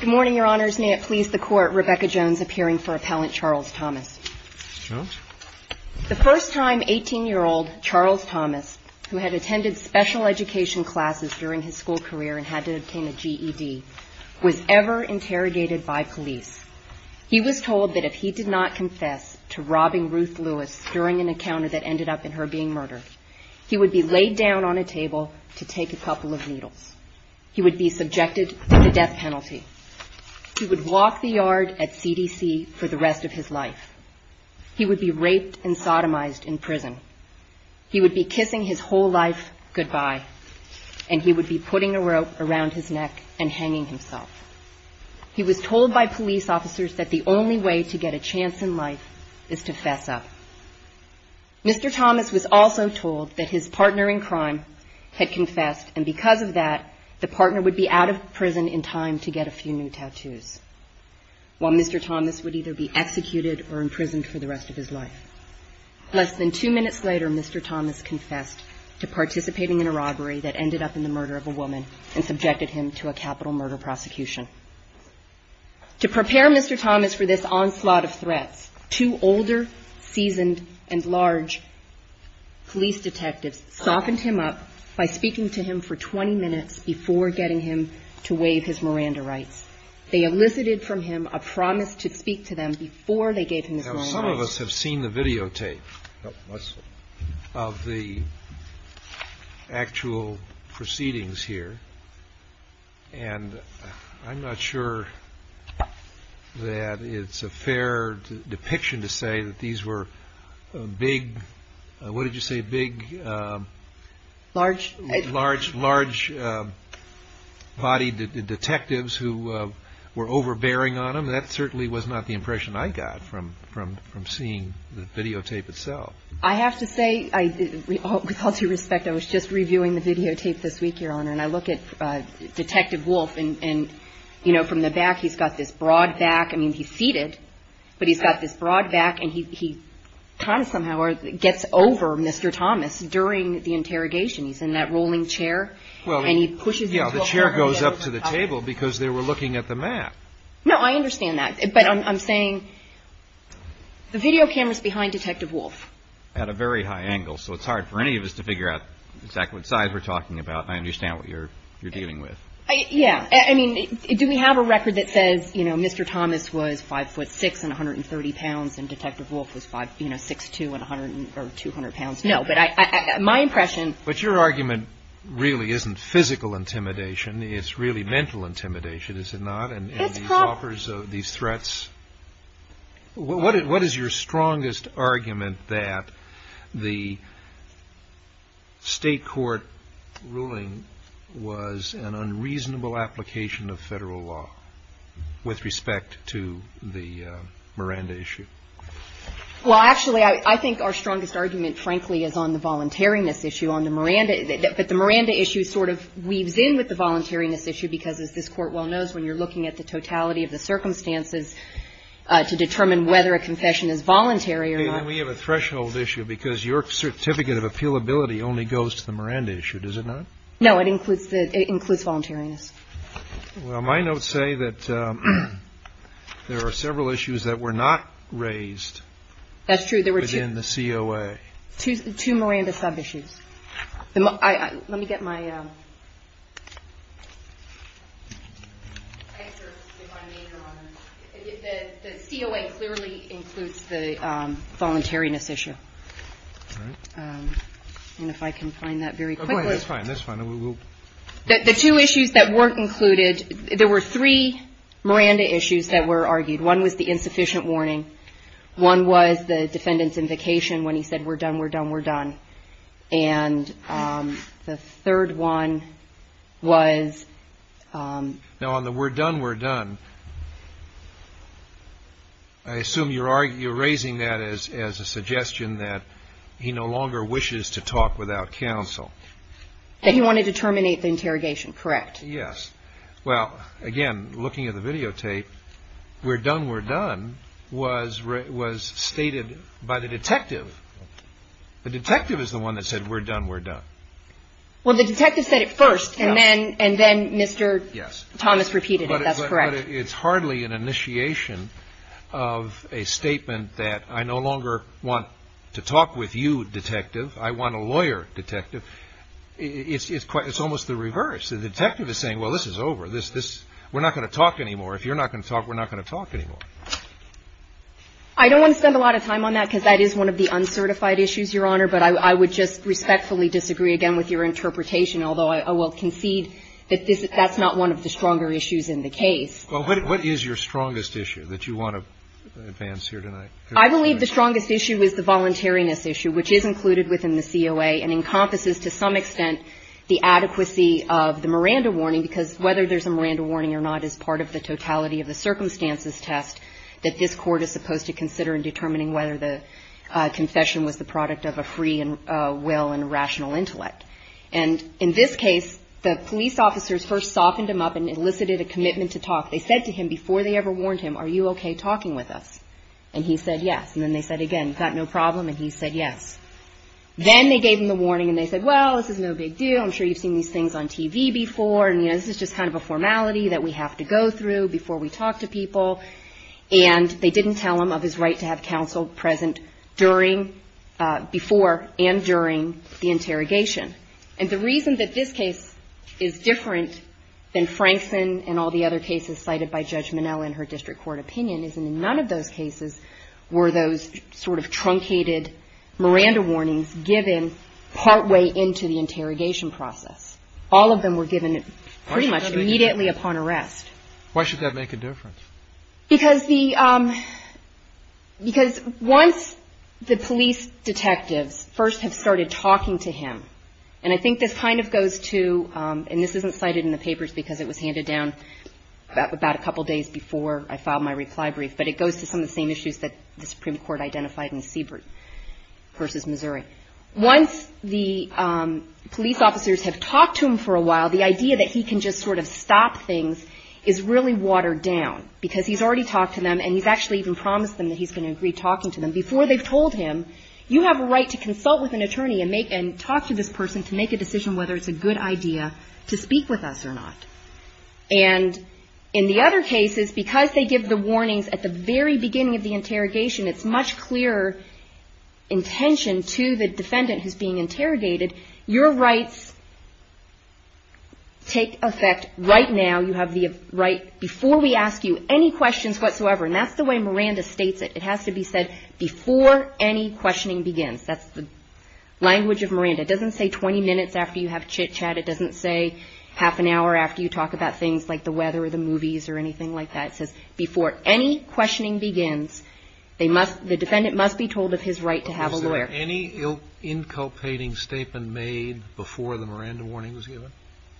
Good morning, Your Honors. May it please the Court, Rebecca Jones appearing for Appellant Charles Thomas. The first time 18-year-old Charles Thomas, who had attended special education classes during his school career and had to obtain a GED, was ever interrogated by police. He was told that if he did not confess to robbing Ruth Lewis during an encounter that ended up in her being murdered, he would be laid down on a table to take a couple of needles. He would be subjected to the death penalty. He would walk the yard at CDC for the rest of his life. He would be raped and sodomized in prison. He would be kissing his whole life goodbye, and he would be putting a rope around his neck and hanging himself. He was told by police officers that the only way to get a chance in life is to fess up. Mr. Thomas was also told that his partner in crime had confessed, and because of that, the partner would be out of prison in time to get a few new tattoos, while Mr. Thomas would either be executed or imprisoned for the rest of his life. Less than two minutes later, Mr. Thomas confessed to participating in a robbery that ended up in the murder of a woman and subjected him to a capital murder prosecution. To prepare Mr. Thomas for this onslaught of threats, two older, seasoned, and large police detectives softened him up by speaking to him for 20 minutes before getting him to waive his Miranda rights. They elicited from him a promise to speak to them before they gave him his Miranda rights. Some of us have seen the videotape of the actual proceedings here. And I'm not sure that it's a fair depiction to say that these were big. What did you say? Big, large, large, large body detectives who were overbearing on him. That certainly was not the impression I got from seeing the videotape itself. I have to say, with all due respect, I was just reviewing the videotape this week, Your Honor. And I look at Detective Wolfe, and from the back, he's got this broad back. I mean, he's seated, but he's got this broad back, and he kind of somehow gets over Mr. Thomas during the interrogation. He's in that rolling chair, and he pushes him forward. Yeah, the chair goes up to the table because they were looking at the map. No, I understand that, but I'm saying the video camera's behind Detective Wolfe. At a very high angle, so it's hard for any of us to figure out exactly what size we're talking about. I understand what you're dealing with. Yeah, I mean, do we have a record that says, you know, Mr. Thomas was 5'6 and 130 pounds, and Detective Wolfe was 6'2 and 200 pounds? No, but my impression. But your argument really isn't physical intimidation. It's really mental intimidation, is it not? And these offers of these threats? What is your strongest argument that the State court ruling was an unreasonable application of Federal law with respect to the Miranda issue? Well, actually, I think our strongest argument, frankly, is on the voluntariness issue on the Miranda. But the Miranda issue sort of weaves in with the voluntariness issue because, as this Court well knows, when you're looking at the totality of the circumstances to determine whether a confession is voluntary or not. We have a threshold issue because your certificate of appealability only goes to the Miranda issue, does it not? No, it includes the — it includes voluntariness. Well, my notes say that there are several issues that were not raised. That's true. Within the COA. Two Miranda sub-issues. Let me get my — The COA clearly includes the voluntariness issue. And if I can find that very quickly. That's fine. That's fine. The two issues that weren't included, there were three Miranda issues that were argued. One was the insufficient warning. One was the defendant's invocation when he said, we're done, we're done, we're done. And the third one was — Now, on the we're done, we're done, I assume you're raising that as a suggestion that he no longer wishes to talk without counsel. That he wanted to terminate the interrogation, correct. Yes. Well, again, looking at the videotape, we're done, we're done was stated by the detective. The detective is the one that said, we're done, we're done. Well, the detective said it first. Yes. And then Mr. Thomas repeated it. That's correct. But it's hardly an initiation of a statement that I no longer want to talk with you, detective. I want a lawyer, detective. It's almost the reverse. The detective is saying, well, this is over. We're not going to talk anymore. If you're not going to talk, we're not going to talk anymore. I don't want to spend a lot of time on that, because that is one of the uncertified issues, Your Honor. But I would just respectfully disagree again with your interpretation, although I will concede that that's not one of the stronger issues in the case. Well, what is your strongest issue that you want to advance here tonight? I believe the strongest issue is the voluntariness issue, which is included within the COA and encompasses to some extent the adequacy of the Miranda warning, because whether there's a Miranda warning or not is part of the totality of the circumstances test that this Court is supposed to consider in determining whether the confession was the product of a free will and rational intellect. And in this case, the police officers first softened him up and elicited a commitment to talk. They said to him, before they ever warned him, are you okay talking with us? And he said yes. And then they said again, you've got no problem? And he said yes. Then they gave him the warning and they said, well, this is no big deal. I'm sure you've seen these things on TV before. And, you know, this is just kind of a formality that we have to go through before we talk to people. And they didn't tell him of his right to have counsel present during, before, and during the interrogation. And the reason that this case is different than Frankson and all the other cases cited by Judge Minnell in her district court opinion is in none of those cases were those sort of truncated Miranda warnings given partway into the interrogation process. All of them were given pretty much immediately upon arrest. Why should that make a difference? Because the, because once the police detectives first have started talking to him, and I think this kind of goes to, and this isn't cited in the papers because it was handed down about a couple days before I filed my reply brief, but it goes to some of the same issues that the Supreme Court identified in Siebert versus Missouri. Once the police officers have talked to him for a while, the idea that he can just sort of stop things is really watered down because he's already talked to them and he's actually even promised them that he's going to agree talking to them before they've told him, you have a right to consult with an attorney and make, and talk to this person to make a decision whether it's a good idea to speak with us or not. And in the other cases, because they give the warnings at the very beginning of the interrogation, it's much clearer intention to the defendant who's being interrogated. Your rights take effect right now. You have the right before we ask you any questions whatsoever. And that's the way Miranda states it. It has to be said before any questioning begins. That's the language of Miranda. It doesn't say 20 minutes after you have chit chat. It doesn't say half an hour after you talk about things like the weather or the movies or anything like that. It says before any questioning begins, they must, the defendant must be told of his right to have a lawyer. Is there any inculpating statement made before the Miranda warning was given?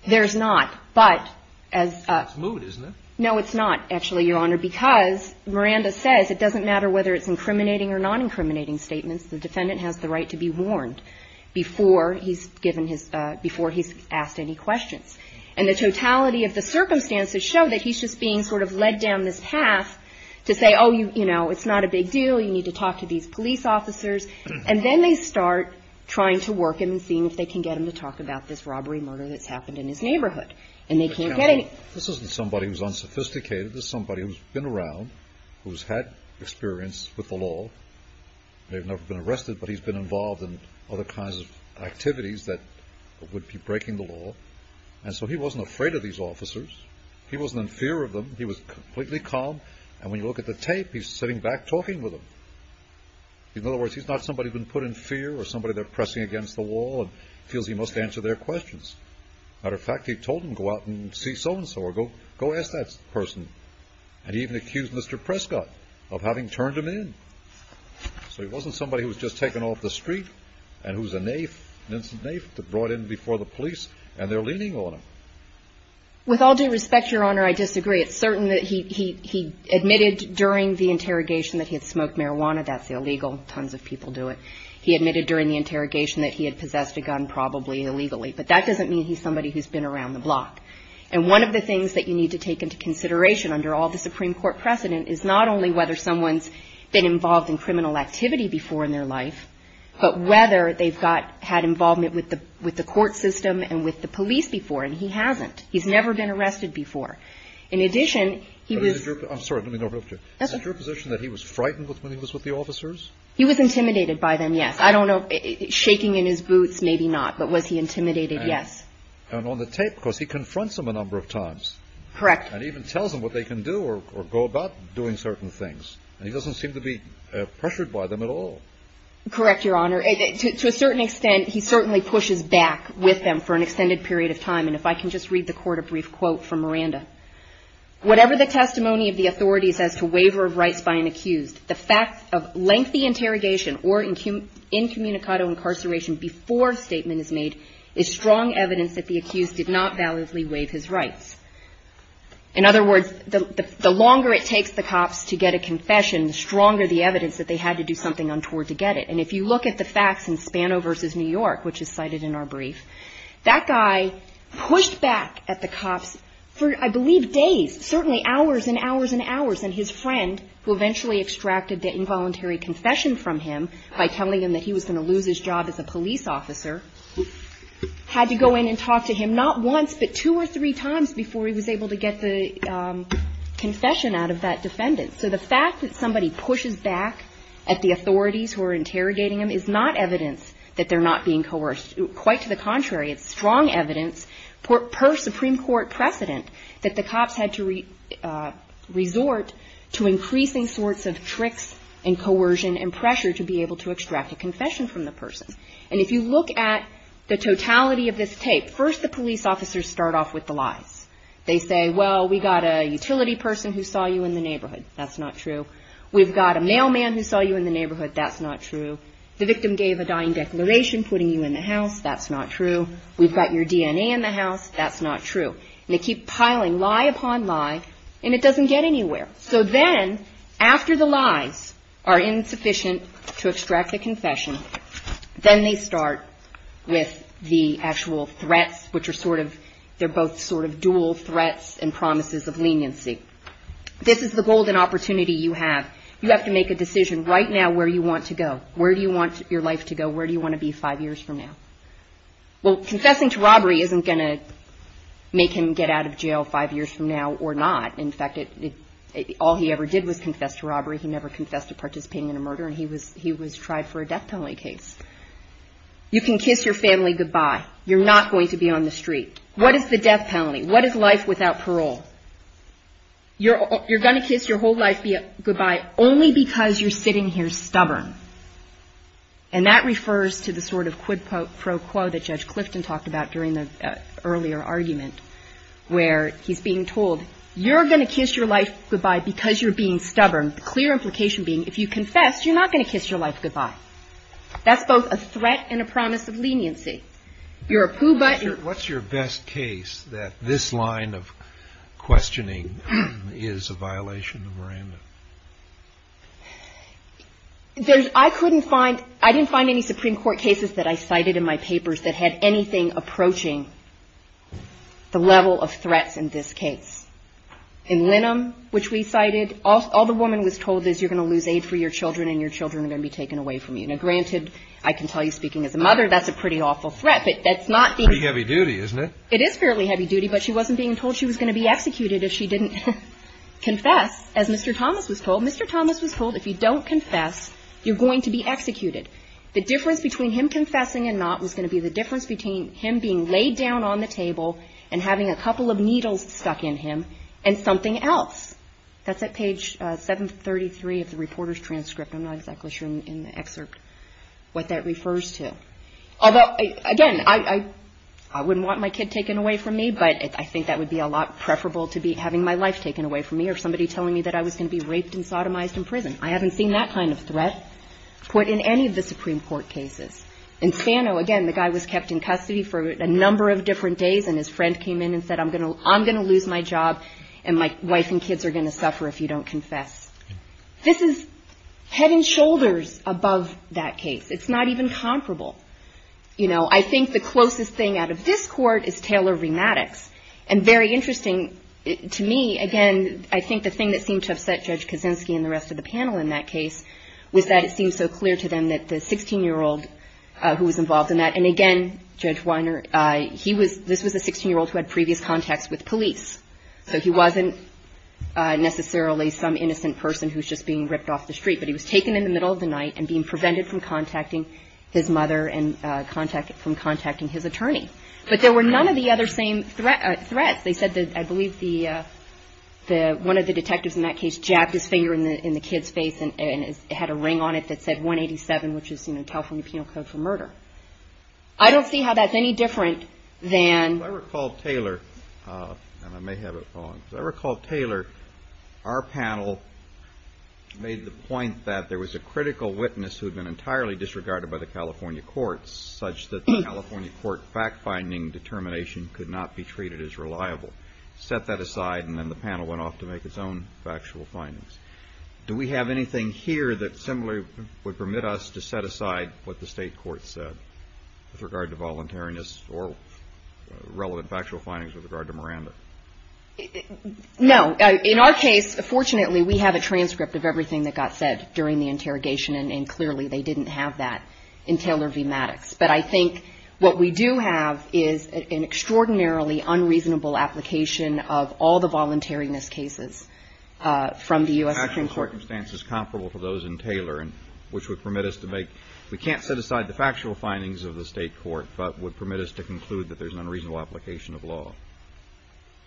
There's not. But as a. Smooth, isn't it? No, it's not actually, Your Honor, because Miranda says it doesn't matter whether it's incriminating or non-incriminating statements. The defendant has the right to be warned before he's given his, before he's asked any questions. And the totality of the circumstances show that he's just being sort of led down this path to say, oh, you know, it's not a big deal. You need to talk to these police officers. And then they start trying to work him and seeing if they can get him to talk about this robbery murder that's happened in his neighborhood. And they can't get any. This isn't somebody who's unsophisticated. This is somebody who's been around, who's had experience with the law. They've never been arrested, but he's been involved in other kinds of activities that would be breaking the law. And so he wasn't afraid of these officers. He wasn't in fear of them. He was completely calm. And when you look at the tape, he's sitting back talking with him. In other words, he's not somebody who's been put in fear or somebody they're pressing against the wall and feels he must answer their questions. Matter of fact, he told him, go out and see so-and-so or go, go ask that person. And he even accused Mr. Prescott of having turned him in. So he wasn't somebody who was just taken off the street and who's a naif, an innocent naif, brought in before the police and they're leaning on him. With all due respect, Your Honor, I disagree. It's certain that he admitted during the interrogation that he had smoked marijuana. That's illegal. Tons of people do it. He admitted during the interrogation that he had possessed a gun probably illegally, but that doesn't mean he's somebody who's been around the block. And one of the things that you need to take into consideration under all the Supreme Court precedent is not only whether someone's been involved in criminal activity before in their life, but whether they've got, had involvement with the, with the court system and with the police before. And he hasn't, he's never been arrested before. In addition, he was, I'm sorry, let me go over to you. Is it your position that he was frightened with when he was with the officers? He was intimidated by them. Yes. I don't know, shaking in his boots, maybe not, but was he intimidated? Yes. And on the tape, because he confronts them a number of times. Correct. And even tells them what they can do or go about doing certain things. And he doesn't seem to be pressured by them at all. Correct, Your Honor. To a certain extent, he certainly pushes back with them for an extended period of time. And if I can just read the court a brief quote from Miranda. Whatever the testimony of the authorities as to waiver of rights by an accused, the fact of lengthy interrogation or incum, before a statement is made, is strong evidence that the accused did not validly waive his rights. In other words, the longer it takes the cops to get a confession, the stronger the evidence that they had to do something untoward to get it. And if you look at the facts in Spano versus New York, which is cited in our brief, that guy pushed back at the cops for, I believe, days, certainly hours and hours and hours. And his friend, who eventually extracted the involuntary confession from him, by telling him that he was going to lose his job as a police officer, had to go in and talk to him, not once, but two or three times, before he was able to get the confession out of that defendant. So the fact that somebody pushes back at the authorities who are interrogating him is not evidence that they're not being coerced. Quite to the contrary, it's strong evidence, per Supreme Court precedent, that the cops had to resort to increasing sorts of tricks and coercion and that they were able to extract a confession from the person. And if you look at the totality of this tape, first the police officers start off with the lies. They say, well, we got a utility person who saw you in the neighborhood. That's not true. We've got a mailman who saw you in the neighborhood. That's not true. The victim gave a dying declaration, putting you in the house. That's not true. We've got your DNA in the house. That's not true. And they keep piling lie upon lie, and it doesn't get anywhere. So then, after the lies are insufficient to extract a confession, then they start with the actual threats, which are sort of, they're both sort of dual threats and promises of leniency. This is the golden opportunity you have. You have to make a decision right now where you want to go. Where do you want your life to go? Where do you want to be five years from now? Well, confessing to robbery isn't going to make him get out of jail five years from now or not. In fact, all he ever did was confess to robbery. He never confessed to participating in a murder, and he was tried for a death penalty case. You can kiss your family goodbye. You're not going to be on the street. What is the death penalty? What is life without parole? You're going to kiss your whole life goodbye only because you're sitting here stubborn. And that refers to the sort of quid pro quo that Judge Clifton talked about during the earlier argument, where he's being told, you're going to kiss your life goodbye because you're being stubborn, the clear implication being if you confess, you're not going to kiss your life goodbye. That's both a threat and a promise of leniency. You're a pooh butt. What's your best case that this line of questioning is a violation of Miranda? There's, I couldn't find, I didn't find any Supreme Court cases that I cited in my papers that had anything approaching the level of threats in this case. In Linnum, which we cited, all the woman was told is you're going to lose aid for your children, and your children are going to be taken away from you. Now, granted, I can tell you speaking as a mother, that's a pretty awful threat, but that's not the heavy duty, isn't it? It is fairly heavy duty, but she wasn't being told she was going to be executed if she didn't confess. As Mr. Thomas was told, Mr. Thomas was told, if you don't confess, you're going to be executed. The difference between him confessing and not was going to be the difference between him being laid down on the table, and having a couple of needles stuck in him, and something else. That's at page 733 of the reporter's transcript. I'm not exactly sure in the excerpt what that refers to. Although, again, I wouldn't want my kid taken away from me, but I think that would be a lot preferable to having my life taken away from me, or somebody telling me that I was going to be raped and sodomized in prison. I haven't seen that kind of threat put in any of the Supreme Court cases. In Sano, again, the guy was kept in custody for a number of different days, and his friend came in and said, I'm going to lose my job, and my wife and kids are going to suffer if you don't confess. This is head and shoulders above that case. It's not even comparable. You know, I think the closest thing out of this Court is Taylor Rematics. And very interesting to me, again, I think the thing that seemed to upset Judge Kaczynski and the rest of the panel in that case was that it seemed so clear to them that the 16-year-old who was involved in that, and again, Judge Weiner, this was a 16-year-old who had previous contacts with police. So he wasn't necessarily some innocent person who was just being ripped off the street, but he was taken in the middle of the night and being prevented from contacting his mother and from contacting his attorney. But there were none of the other same threats. They said that, I believe one of the detectives in that case jacked his finger in the kid's face and had a ring on it that said 187, which is, you know, California Penal Code for Murder. I don't see how that's any different than... If I recall, Taylor, and I may have it wrong, if I recall, Taylor, our panel made the point that there was a critical witness who had been entirely disregarded by the California courts, such that the California court fact-finding determination could not be treated as reliable. Set that aside, and then the panel went off to make its own factual findings. Do we have anything here that similarly would permit us to set aside what the state court said with regard to voluntariness or relevant factual findings with regard to Miranda? No. In our case, fortunately, we have a transcript of everything that got said during the interrogation, and clearly they didn't have that in Taylor v. Maddox. But I think what we do have is an extraordinarily unreasonable application of all the voluntariness cases from the U.S. Supreme Court. Actual circumstances comparable to those in Taylor, which would permit us to make — we can't set aside the factual findings of the state court, but would permit us to conclude that there's an unreasonable application of law.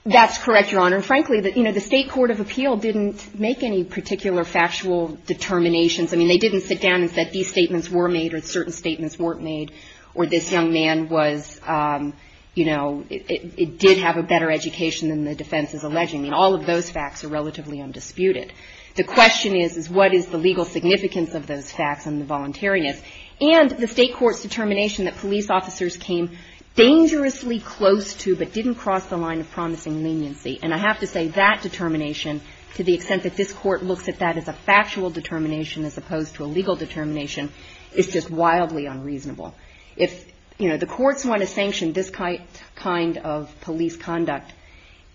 That's correct, Your Honor. And frankly, you know, the state court of appeal didn't make any particular factual determinations. I mean, they didn't sit down and say these statements were made or certain statements weren't made, or this young man was, you know, it did have a better education than the defense is alleging. I mean, all of those facts are relatively undisputed. The question is, is what is the legal significance of those facts and the voluntariness? And the state court's determination that police officers came dangerously close to, but didn't cross the line of promising leniency. And I have to say that determination, to the extent that this Court looks at that as a factual determination as opposed to a legal determination, is just wildly unreasonable. If, you know, the courts want to sanction this kind of police conduct,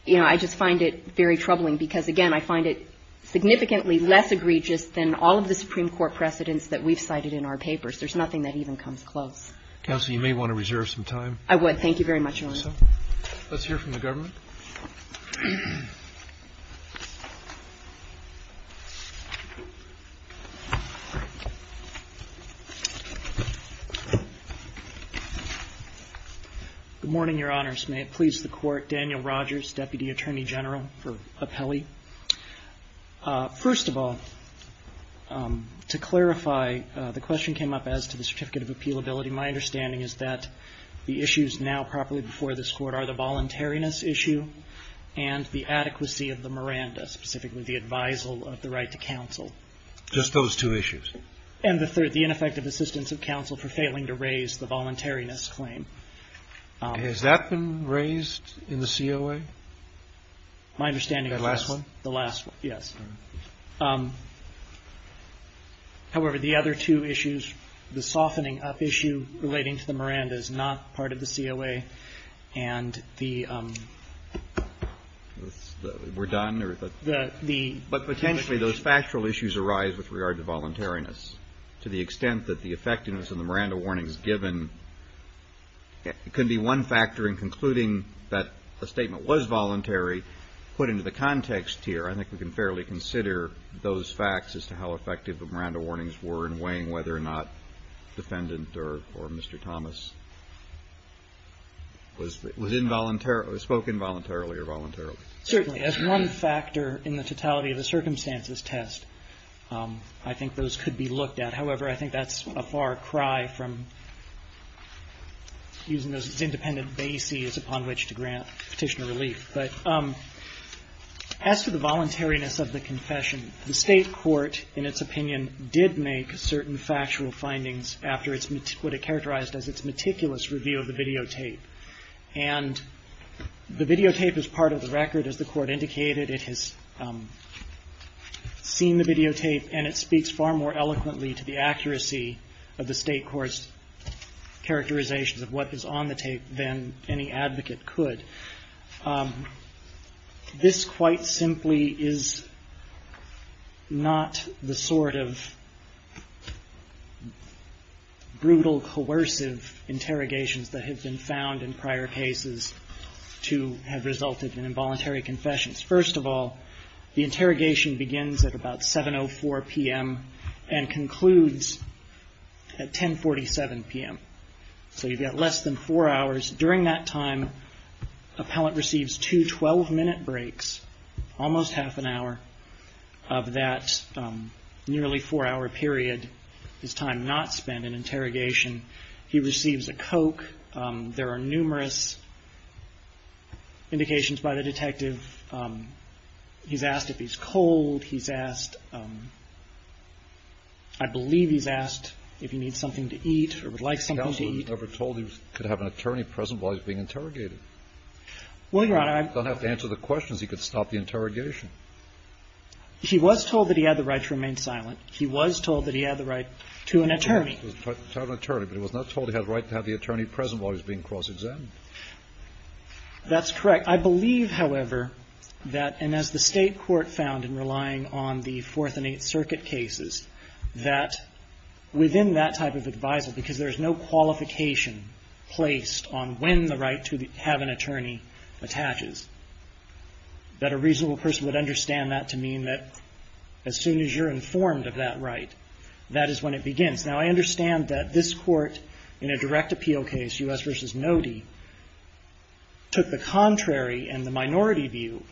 you know, I just find it very troubling because, again, I find it significantly less egregious than all of the Supreme Court precedents that we've cited in our papers. There's nothing that even comes close. Counsel, you may want to reserve some time. I would. Thank you very much, Your Honor. Let's hear from the government. Good morning, Your Honors. May it please the Court. Daniel Rogers, Deputy Attorney General for Appelli. First of all, to clarify, the question came up as to the certificate of appealability. My understanding is that the issues now properly before this Court are the softening up issue and the adequacy of the Miranda, specifically the advisal of the right to counsel. Just those two issues? And the third, the ineffective assistance of counsel for failing to raise the voluntariness claim. Has that been raised in the COA? My understanding is the last one, yes. However, the other two issues, the softening up issue relating to the Miranda is not part of the COA, and the We're done? The But potentially, those factual issues arise with regard to voluntariness. To the extent that the effectiveness of the Miranda warnings given can be one factor in concluding that a statement was voluntary, put into the context here, I think we can fairly consider those facts as to how effective the Miranda warnings were in weighing whether or not defendant or Mr. Thomas was involuntary, spoke involuntarily or voluntarily. Certainly, as one factor in the totality of the circumstances test, I think those could be looked at. However, I think that's a far cry from using those independent bases upon which to grant petitioner relief. But as for the voluntariness of the confession, the State court, in its opinion, did make certain factual findings after what it characterized as its meticulous review of the videotape. And the videotape is part of the record, as the court indicated. It has seen the videotape, and it speaks far more eloquently to the accuracy of the State court's characterizations of what is on the tape than any advocate could. This quite simply is not the sort of brutal, coercive interrogations that have been found in prior cases to have resulted in involuntary confessions. First of all, the interrogation begins at about 7.04 p.m. and concludes at 10.47 p.m. So you've got less than four hours. During that time, appellant receives two 12-minute breaks, almost half an hour of that nearly four-hour period, his time not spent in interrogation. He receives a Coke. There are numerous indications by the detective. He's asked if he's cold. He's asked, eat. He was never told he could have an attorney present while he was being interrogated. You don't have to answer the questions. He could stop the interrogation. He was told that he had the right to remain silent. He was told that he had the right to an attorney. He was told he had the right to have the attorney present while he was being cross-examined. That's correct. I believe, however, that, and as the State court found in relying on the Fourth and Eighth Circuit cases, that within that type of advisal, because there's no qualification placed on when the right to have an attorney attaches, that a reasonable person would understand that to mean that as soon as you're informed of that right, that is when it begins. Now, I understand that this Court, in a direct appeal case, U.S. v. Nody, took the contrary and the minority view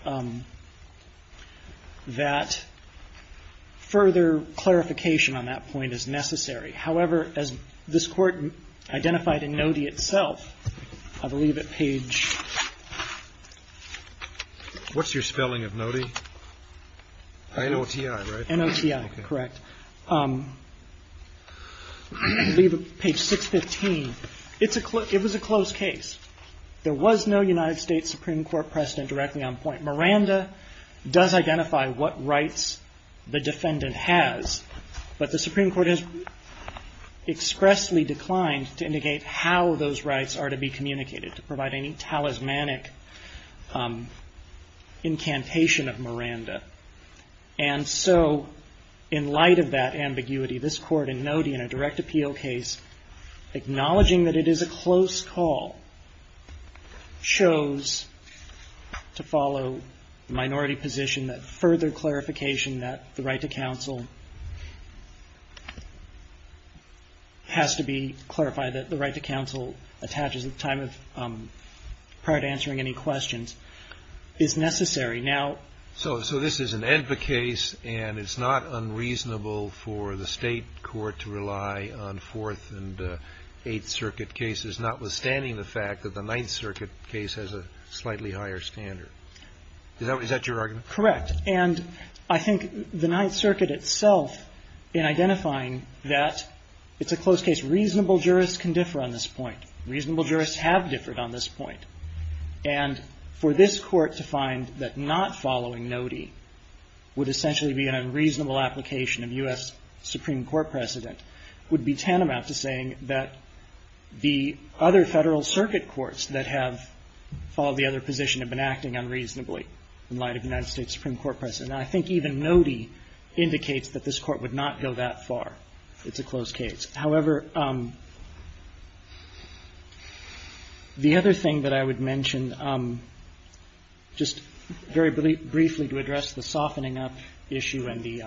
that further clarification on that point is necessary. However, as this Court identified in Nody itself, I believe at page What's your spelling of Nody? N-O-T-I, right? N-O-T-I, correct. I believe at page 615, it was a closed case. There was no United States Supreme Court precedent directly on point. Miranda does identify what rights the defendant has, but the Supreme Court has expressly declined to indicate how those rights are to be communicated, to provide any talismanic incantation of Miranda. And so, in light of that ambiguity, this Court in Nody, in a direct appeal case, acknowledging that it is a closed call, shows, to follow the minority position, that further clarification that the right to counsel has to be clarified, that the right to counsel attaches at the time of, prior to answering any questions, is necessary. So this is an ENPA case, and it's not unreasonable for the State court to rely on Fourth and Eighth Circuit cases, notwithstanding the fact that the Ninth Circuit case has a slightly higher standard. Is that your argument? Correct. And I think the Ninth Circuit itself, in identifying that it's a closed case, reasonable jurists can differ on this point. Reasonable jurists have differed on this point. And for this Court to find that not following Nody would essentially be an unreasonable application of U.S. Supreme Court precedent would be tantamount to saying that the other Federal Circuit courts that have followed the other position have been acting unreasonably in light of the United States Supreme Court precedent. And I think even Nody indicates that this Court would not go that far. It's a closed case. However, the other thing that I would mention, just very briefly to address the softening up issue and the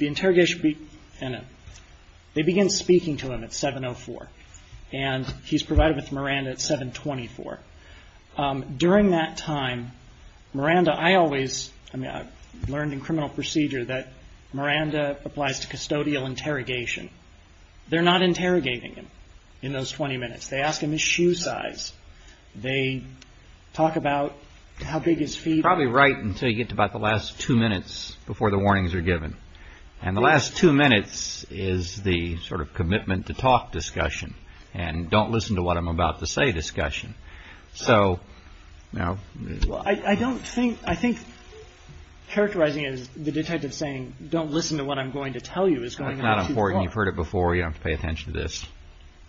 interrogation, they begin speaking to him at 7.04. And he's provided with Miranda at 7.24. During that time, Miranda, I always learned in criminal procedure that Miranda applies to custodial interrogation. They're not interrogating him in those 20 minutes. They ask him his shoe size. They talk about how big his feet are. Probably right until you get to about the last two minutes before the warnings are given. And the last two minutes is the sort of commitment to talk discussion and don't listen to what I'm about to say discussion. So, you know. I don't think, I think characterizing it as the detective saying don't listen to what I'm going to tell you is going on too far. That's not important. You've heard it before. You don't have to pay attention to this.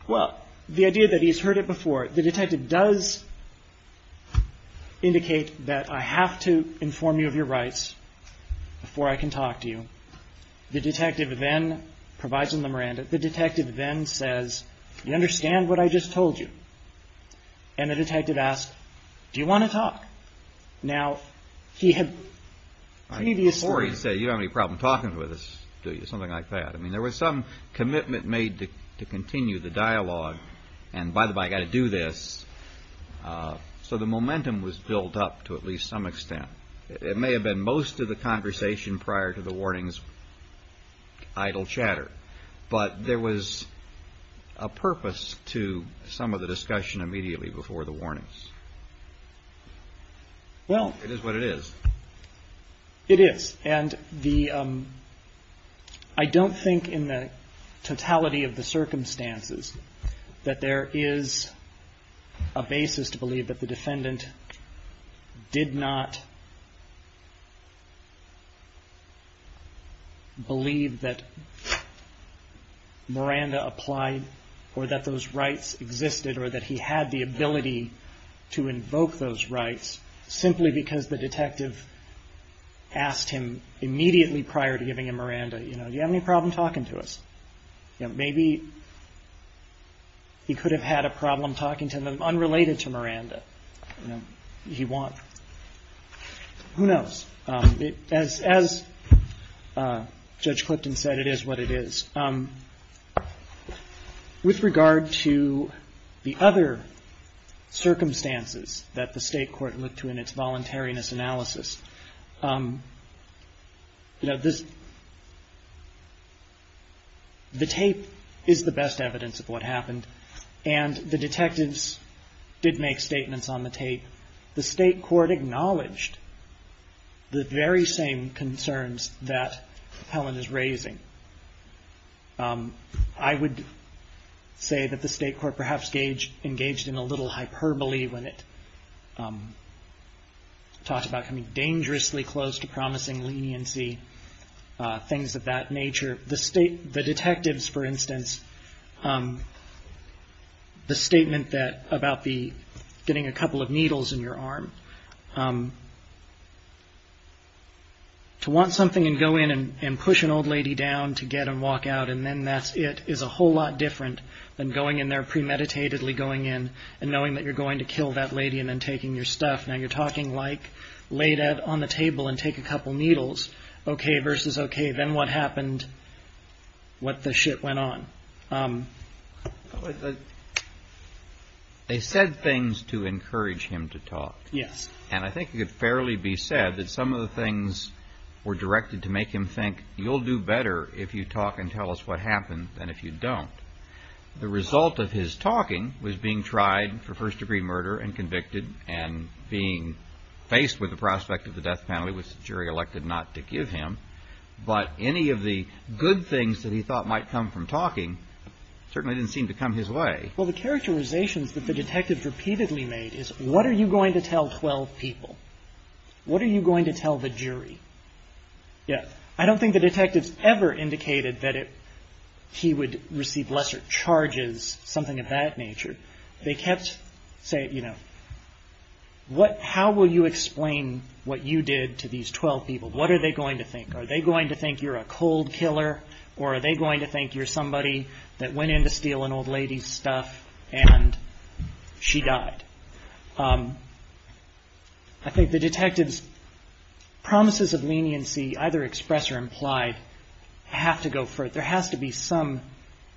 Well, the idea that he's heard it before, the detective does indicate that I have to inform you of your rights before I can talk to you. The detective then provides him the Miranda. The detective then says, you understand what I just told you? And the detective asks, do you want to talk? Now, he had previously. Or he said, you don't have any problem talking with us, do you? Something like that. I mean, there was some commitment made to continue the dialogue. And by the by, I got to do this. So the momentum was built up to at least some extent. It may have been most of the conversation prior to the warnings. Idle chatter. But there was a purpose to some of the discussion immediately before the warnings. Well, it is what it is. It is. And the I don't think in the totality of the circumstances that there is a basis to believe that the defendant did not. Believe that Miranda applied or that those rights existed or that he had the ability to invoke those rights simply because the detective. Asked him immediately prior to giving him Miranda, you know, do you have any problem talking to us? Maybe he could have had a problem talking to them unrelated to Miranda. He won't. Who knows? As as Judge Clifton said, it is what it is. With regard to the other circumstances that the state court looked to in its voluntariness analysis. You know, this. The tape is the best evidence of what happened, and the detectives did make statements on the tape. The state court acknowledged the very same concerns that Helen is raising. I would say that the state court perhaps gauge engaged in a little hyperbole when it. Talked about coming dangerously close to promising leniency, things of that nature. The state, the detectives, for instance. The statement that about the getting a couple of needles in your arm. To want something and go in and push an old lady down to get and walk out and then that's it is a whole lot different than going in there premeditatedly going in and knowing that you're going to kill that lady and then taking your stuff. Now you're talking like laid out on the table and take a couple needles. OK versus OK, then what happened? What the shit went on? They said things to encourage him to talk. Yes. And I think it could fairly be said that some of the things were directed to make him think you'll do better if you talk and tell us what happened. The result of his talking was being tried for first degree murder and convicted and being faced with the prospect of the death penalty, which jury elected not to give him. But any of the good things that he thought might come from talking certainly didn't seem to come his way. Well, the characterizations that the detectives repeatedly made is what are you going to tell 12 people? What are you going to tell the jury? Yes. I don't think the detectives ever indicated that he would receive lesser charges, something of that nature. They kept saying, you know, what how will you explain what you did to these 12 people? What are they going to think? Are they going to think you're a cold killer or are they going to think you're somebody that went in to steal an old lady's stuff and she died? I think the detectives' promises of leniency, either expressed or implied, have to go for it. There has to be some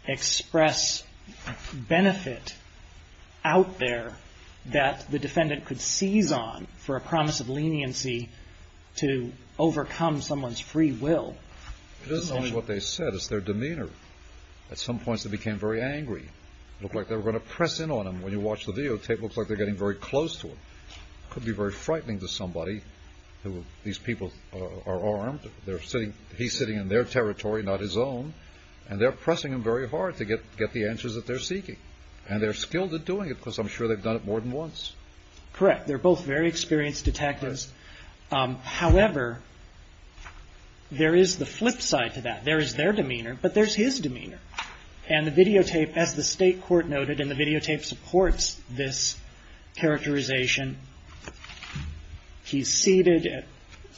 express benefit out there that the defendant could seize on for a promise of leniency to overcome someone's free will. It isn't only what they said. It's their demeanor. At some points they became very angry. It looked like they were going to press in on him. When you watch the videotape, it looks like they're getting very close to him. It could be very frightening to somebody. These people are armed. He's sitting in their territory, not his own, and they're pressing him very hard to get the answers that they're seeking. And they're skilled at doing it because I'm sure they've done it more than once. Correct. They're both very experienced detectives. However, there is the flip side to that. There is their demeanor, but there's his demeanor. And the videotape, as the state court noted, and the videotape supports this characterization, he's seated. At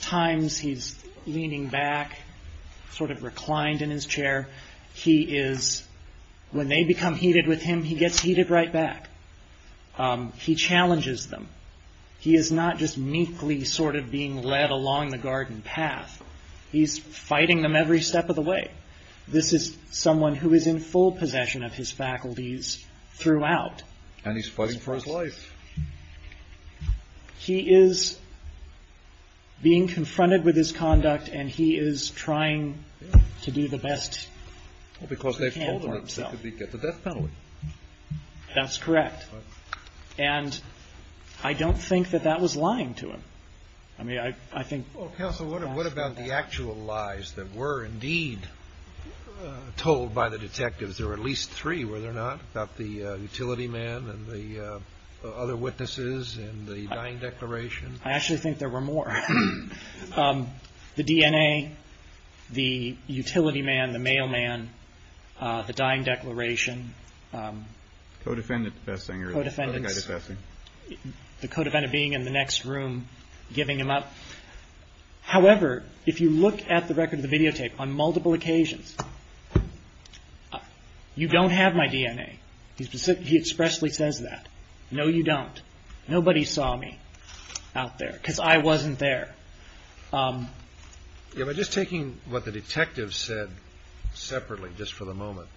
times he's leaning back, sort of reclined in his chair. He is, when they become heated with him, he gets heated right back. He challenges them. He is not just meekly sort of being led along the garden path. He's fighting them every step of the way. This is someone who is in full possession of his faculties throughout. And he's fighting for his life. He is being confronted with his conduct, and he is trying to do the best he can for himself. Because they've told him that he'd get the death penalty. That's correct. And I don't think that that was lying to him. Well, counsel, what about the actual lies that were indeed told by the detectives? There were at least three, were there not? About the utility man and the other witnesses and the dying declaration? I actually think there were more. The DNA, the utility man, the mailman, the dying declaration. Codefendant defessing or the other guy defessing? The codefendant being in the next room giving him up. However, if you look at the record of the videotape on multiple occasions, you don't have my DNA. He expressly says that. No, you don't. Nobody saw me out there because I wasn't there. Just taking what the detectives said separately just for the moment,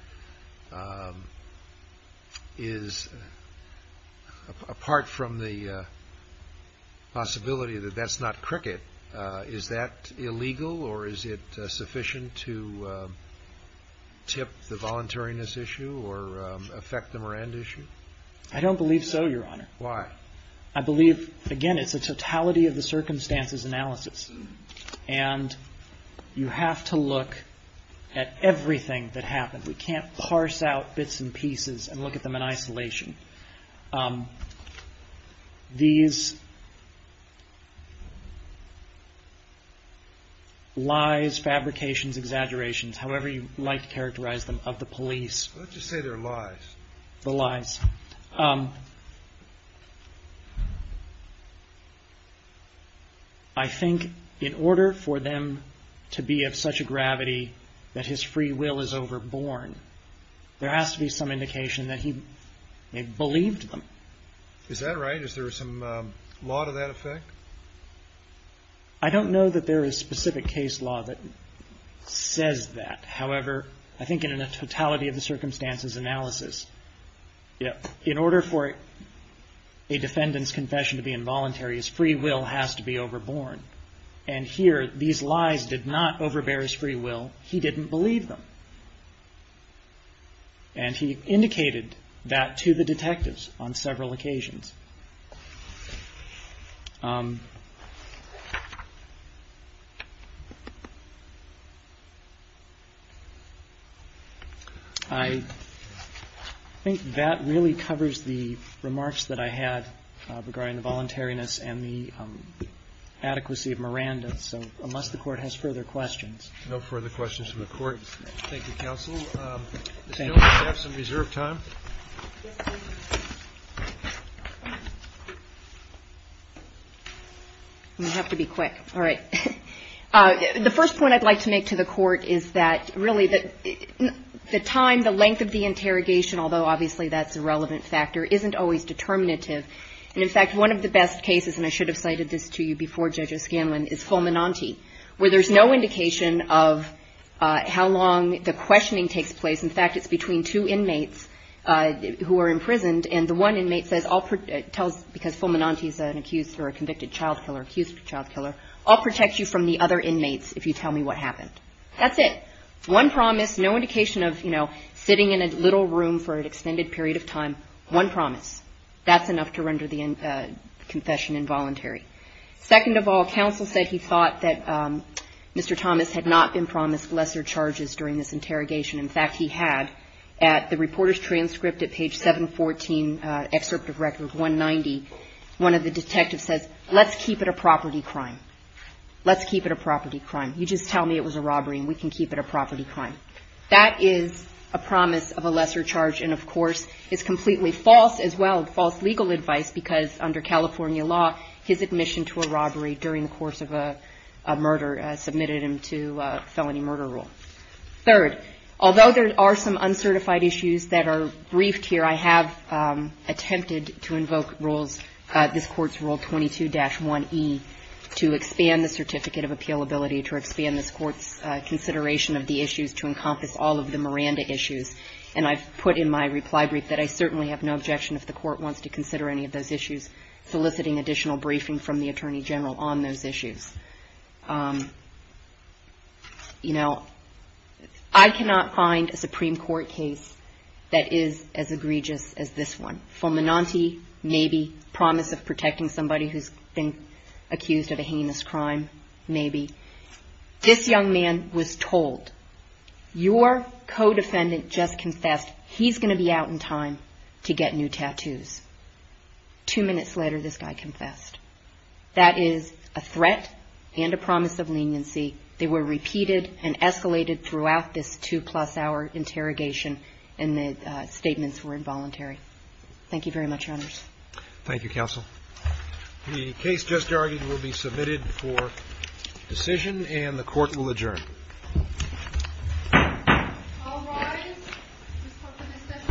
is apart from the possibility that that's not cricket, is that illegal or is it sufficient to tip the voluntariness issue or affect the Miranda issue? I don't believe so, Your Honor. Why? I believe, again, it's a totality of the circumstances analysis. And you have to look at everything that happened. We can't parse out bits and pieces and look at them in isolation. These lies, fabrications, exaggerations, however you like to characterize them, of the police. Let's just say they're lies. The lies. I think in order for them to be of such a gravity that his free will is overborne, there has to be some indication that he believed them. Is that right? Is there some law to that effect? I don't know that there is specific case law that says that. However, I think in a totality of the circumstances analysis, in order for a defendant's confession to be involuntary, his free will has to be overborne. And here, these lies did not overbear his free will. He didn't believe them. And he indicated that to the detectives on several occasions. I think that really covers the remarks that I had regarding the voluntariness and the adequacy of Miranda. So unless the Court has further questions. No further questions from the Court. Thank you, Counsel. We still have some reserved time. I'm going to have to be quick. All right. The first point I'd like to make to the Court is that really the time, the length of the interrogation, although obviously that's a relevant factor, isn't always determinative. And in fact, one of the best cases, and I should have cited this to you before, Judge O'Scanlan, is Fulminante, where there's no indication of how long the questioning takes place. In fact, it's between two inmates who are imprisoned, and the one inmate says because Fulminante is an accused or a convicted child killer, accused child killer, I'll protect you from the other inmates if you tell me what happened. That's it. One promise, no indication of, you know, sitting in a little room for an extended period of time, one promise. That's enough to render the confession involuntary. Second of all, counsel said he thought that Mr. Thomas had not been promised lesser charges during this interrogation. In fact, he had. At the reporter's transcript at page 714, excerpt of record 190, one of the detectives says, let's keep it a property crime. Let's keep it a property crime. You just tell me it was a robbery and we can keep it a property crime. That is a promise of a lesser charge and, of course, is completely false as well, false legal advice, because under California law his admission to a robbery during the course of a murder submitted him to a felony murder rule. Third, although there are some uncertified issues that are briefed here, I have attempted to invoke rules, this Court's Rule 22-1E, to expand the certificate of appealability, to expand this Court's consideration of the issues to encompass all of the Miranda issues. And I've put in my reply brief that I certainly have no objection if the Court wants to consider any of those issues, soliciting additional briefing from the Attorney General on those issues. You know, I cannot find a Supreme Court case that is as egregious as this one. Fulminante, maybe, promise of protecting somebody who's been accused of a heinous crime, maybe. This young man was told, your co-defendant just confessed, he's going to be out in time to get new tattoos. Two minutes later this guy confessed. That is a threat and a promise of leniency. They were repeated and escalated throughout this two-plus-hour interrogation, and the statements were involuntary. Thank you very much, Your Honors. Thank you, Counsel. The case just argued will be submitted for decision, and the Court will adjourn. All rise. This Court will discuss and adjourn. Oh, please.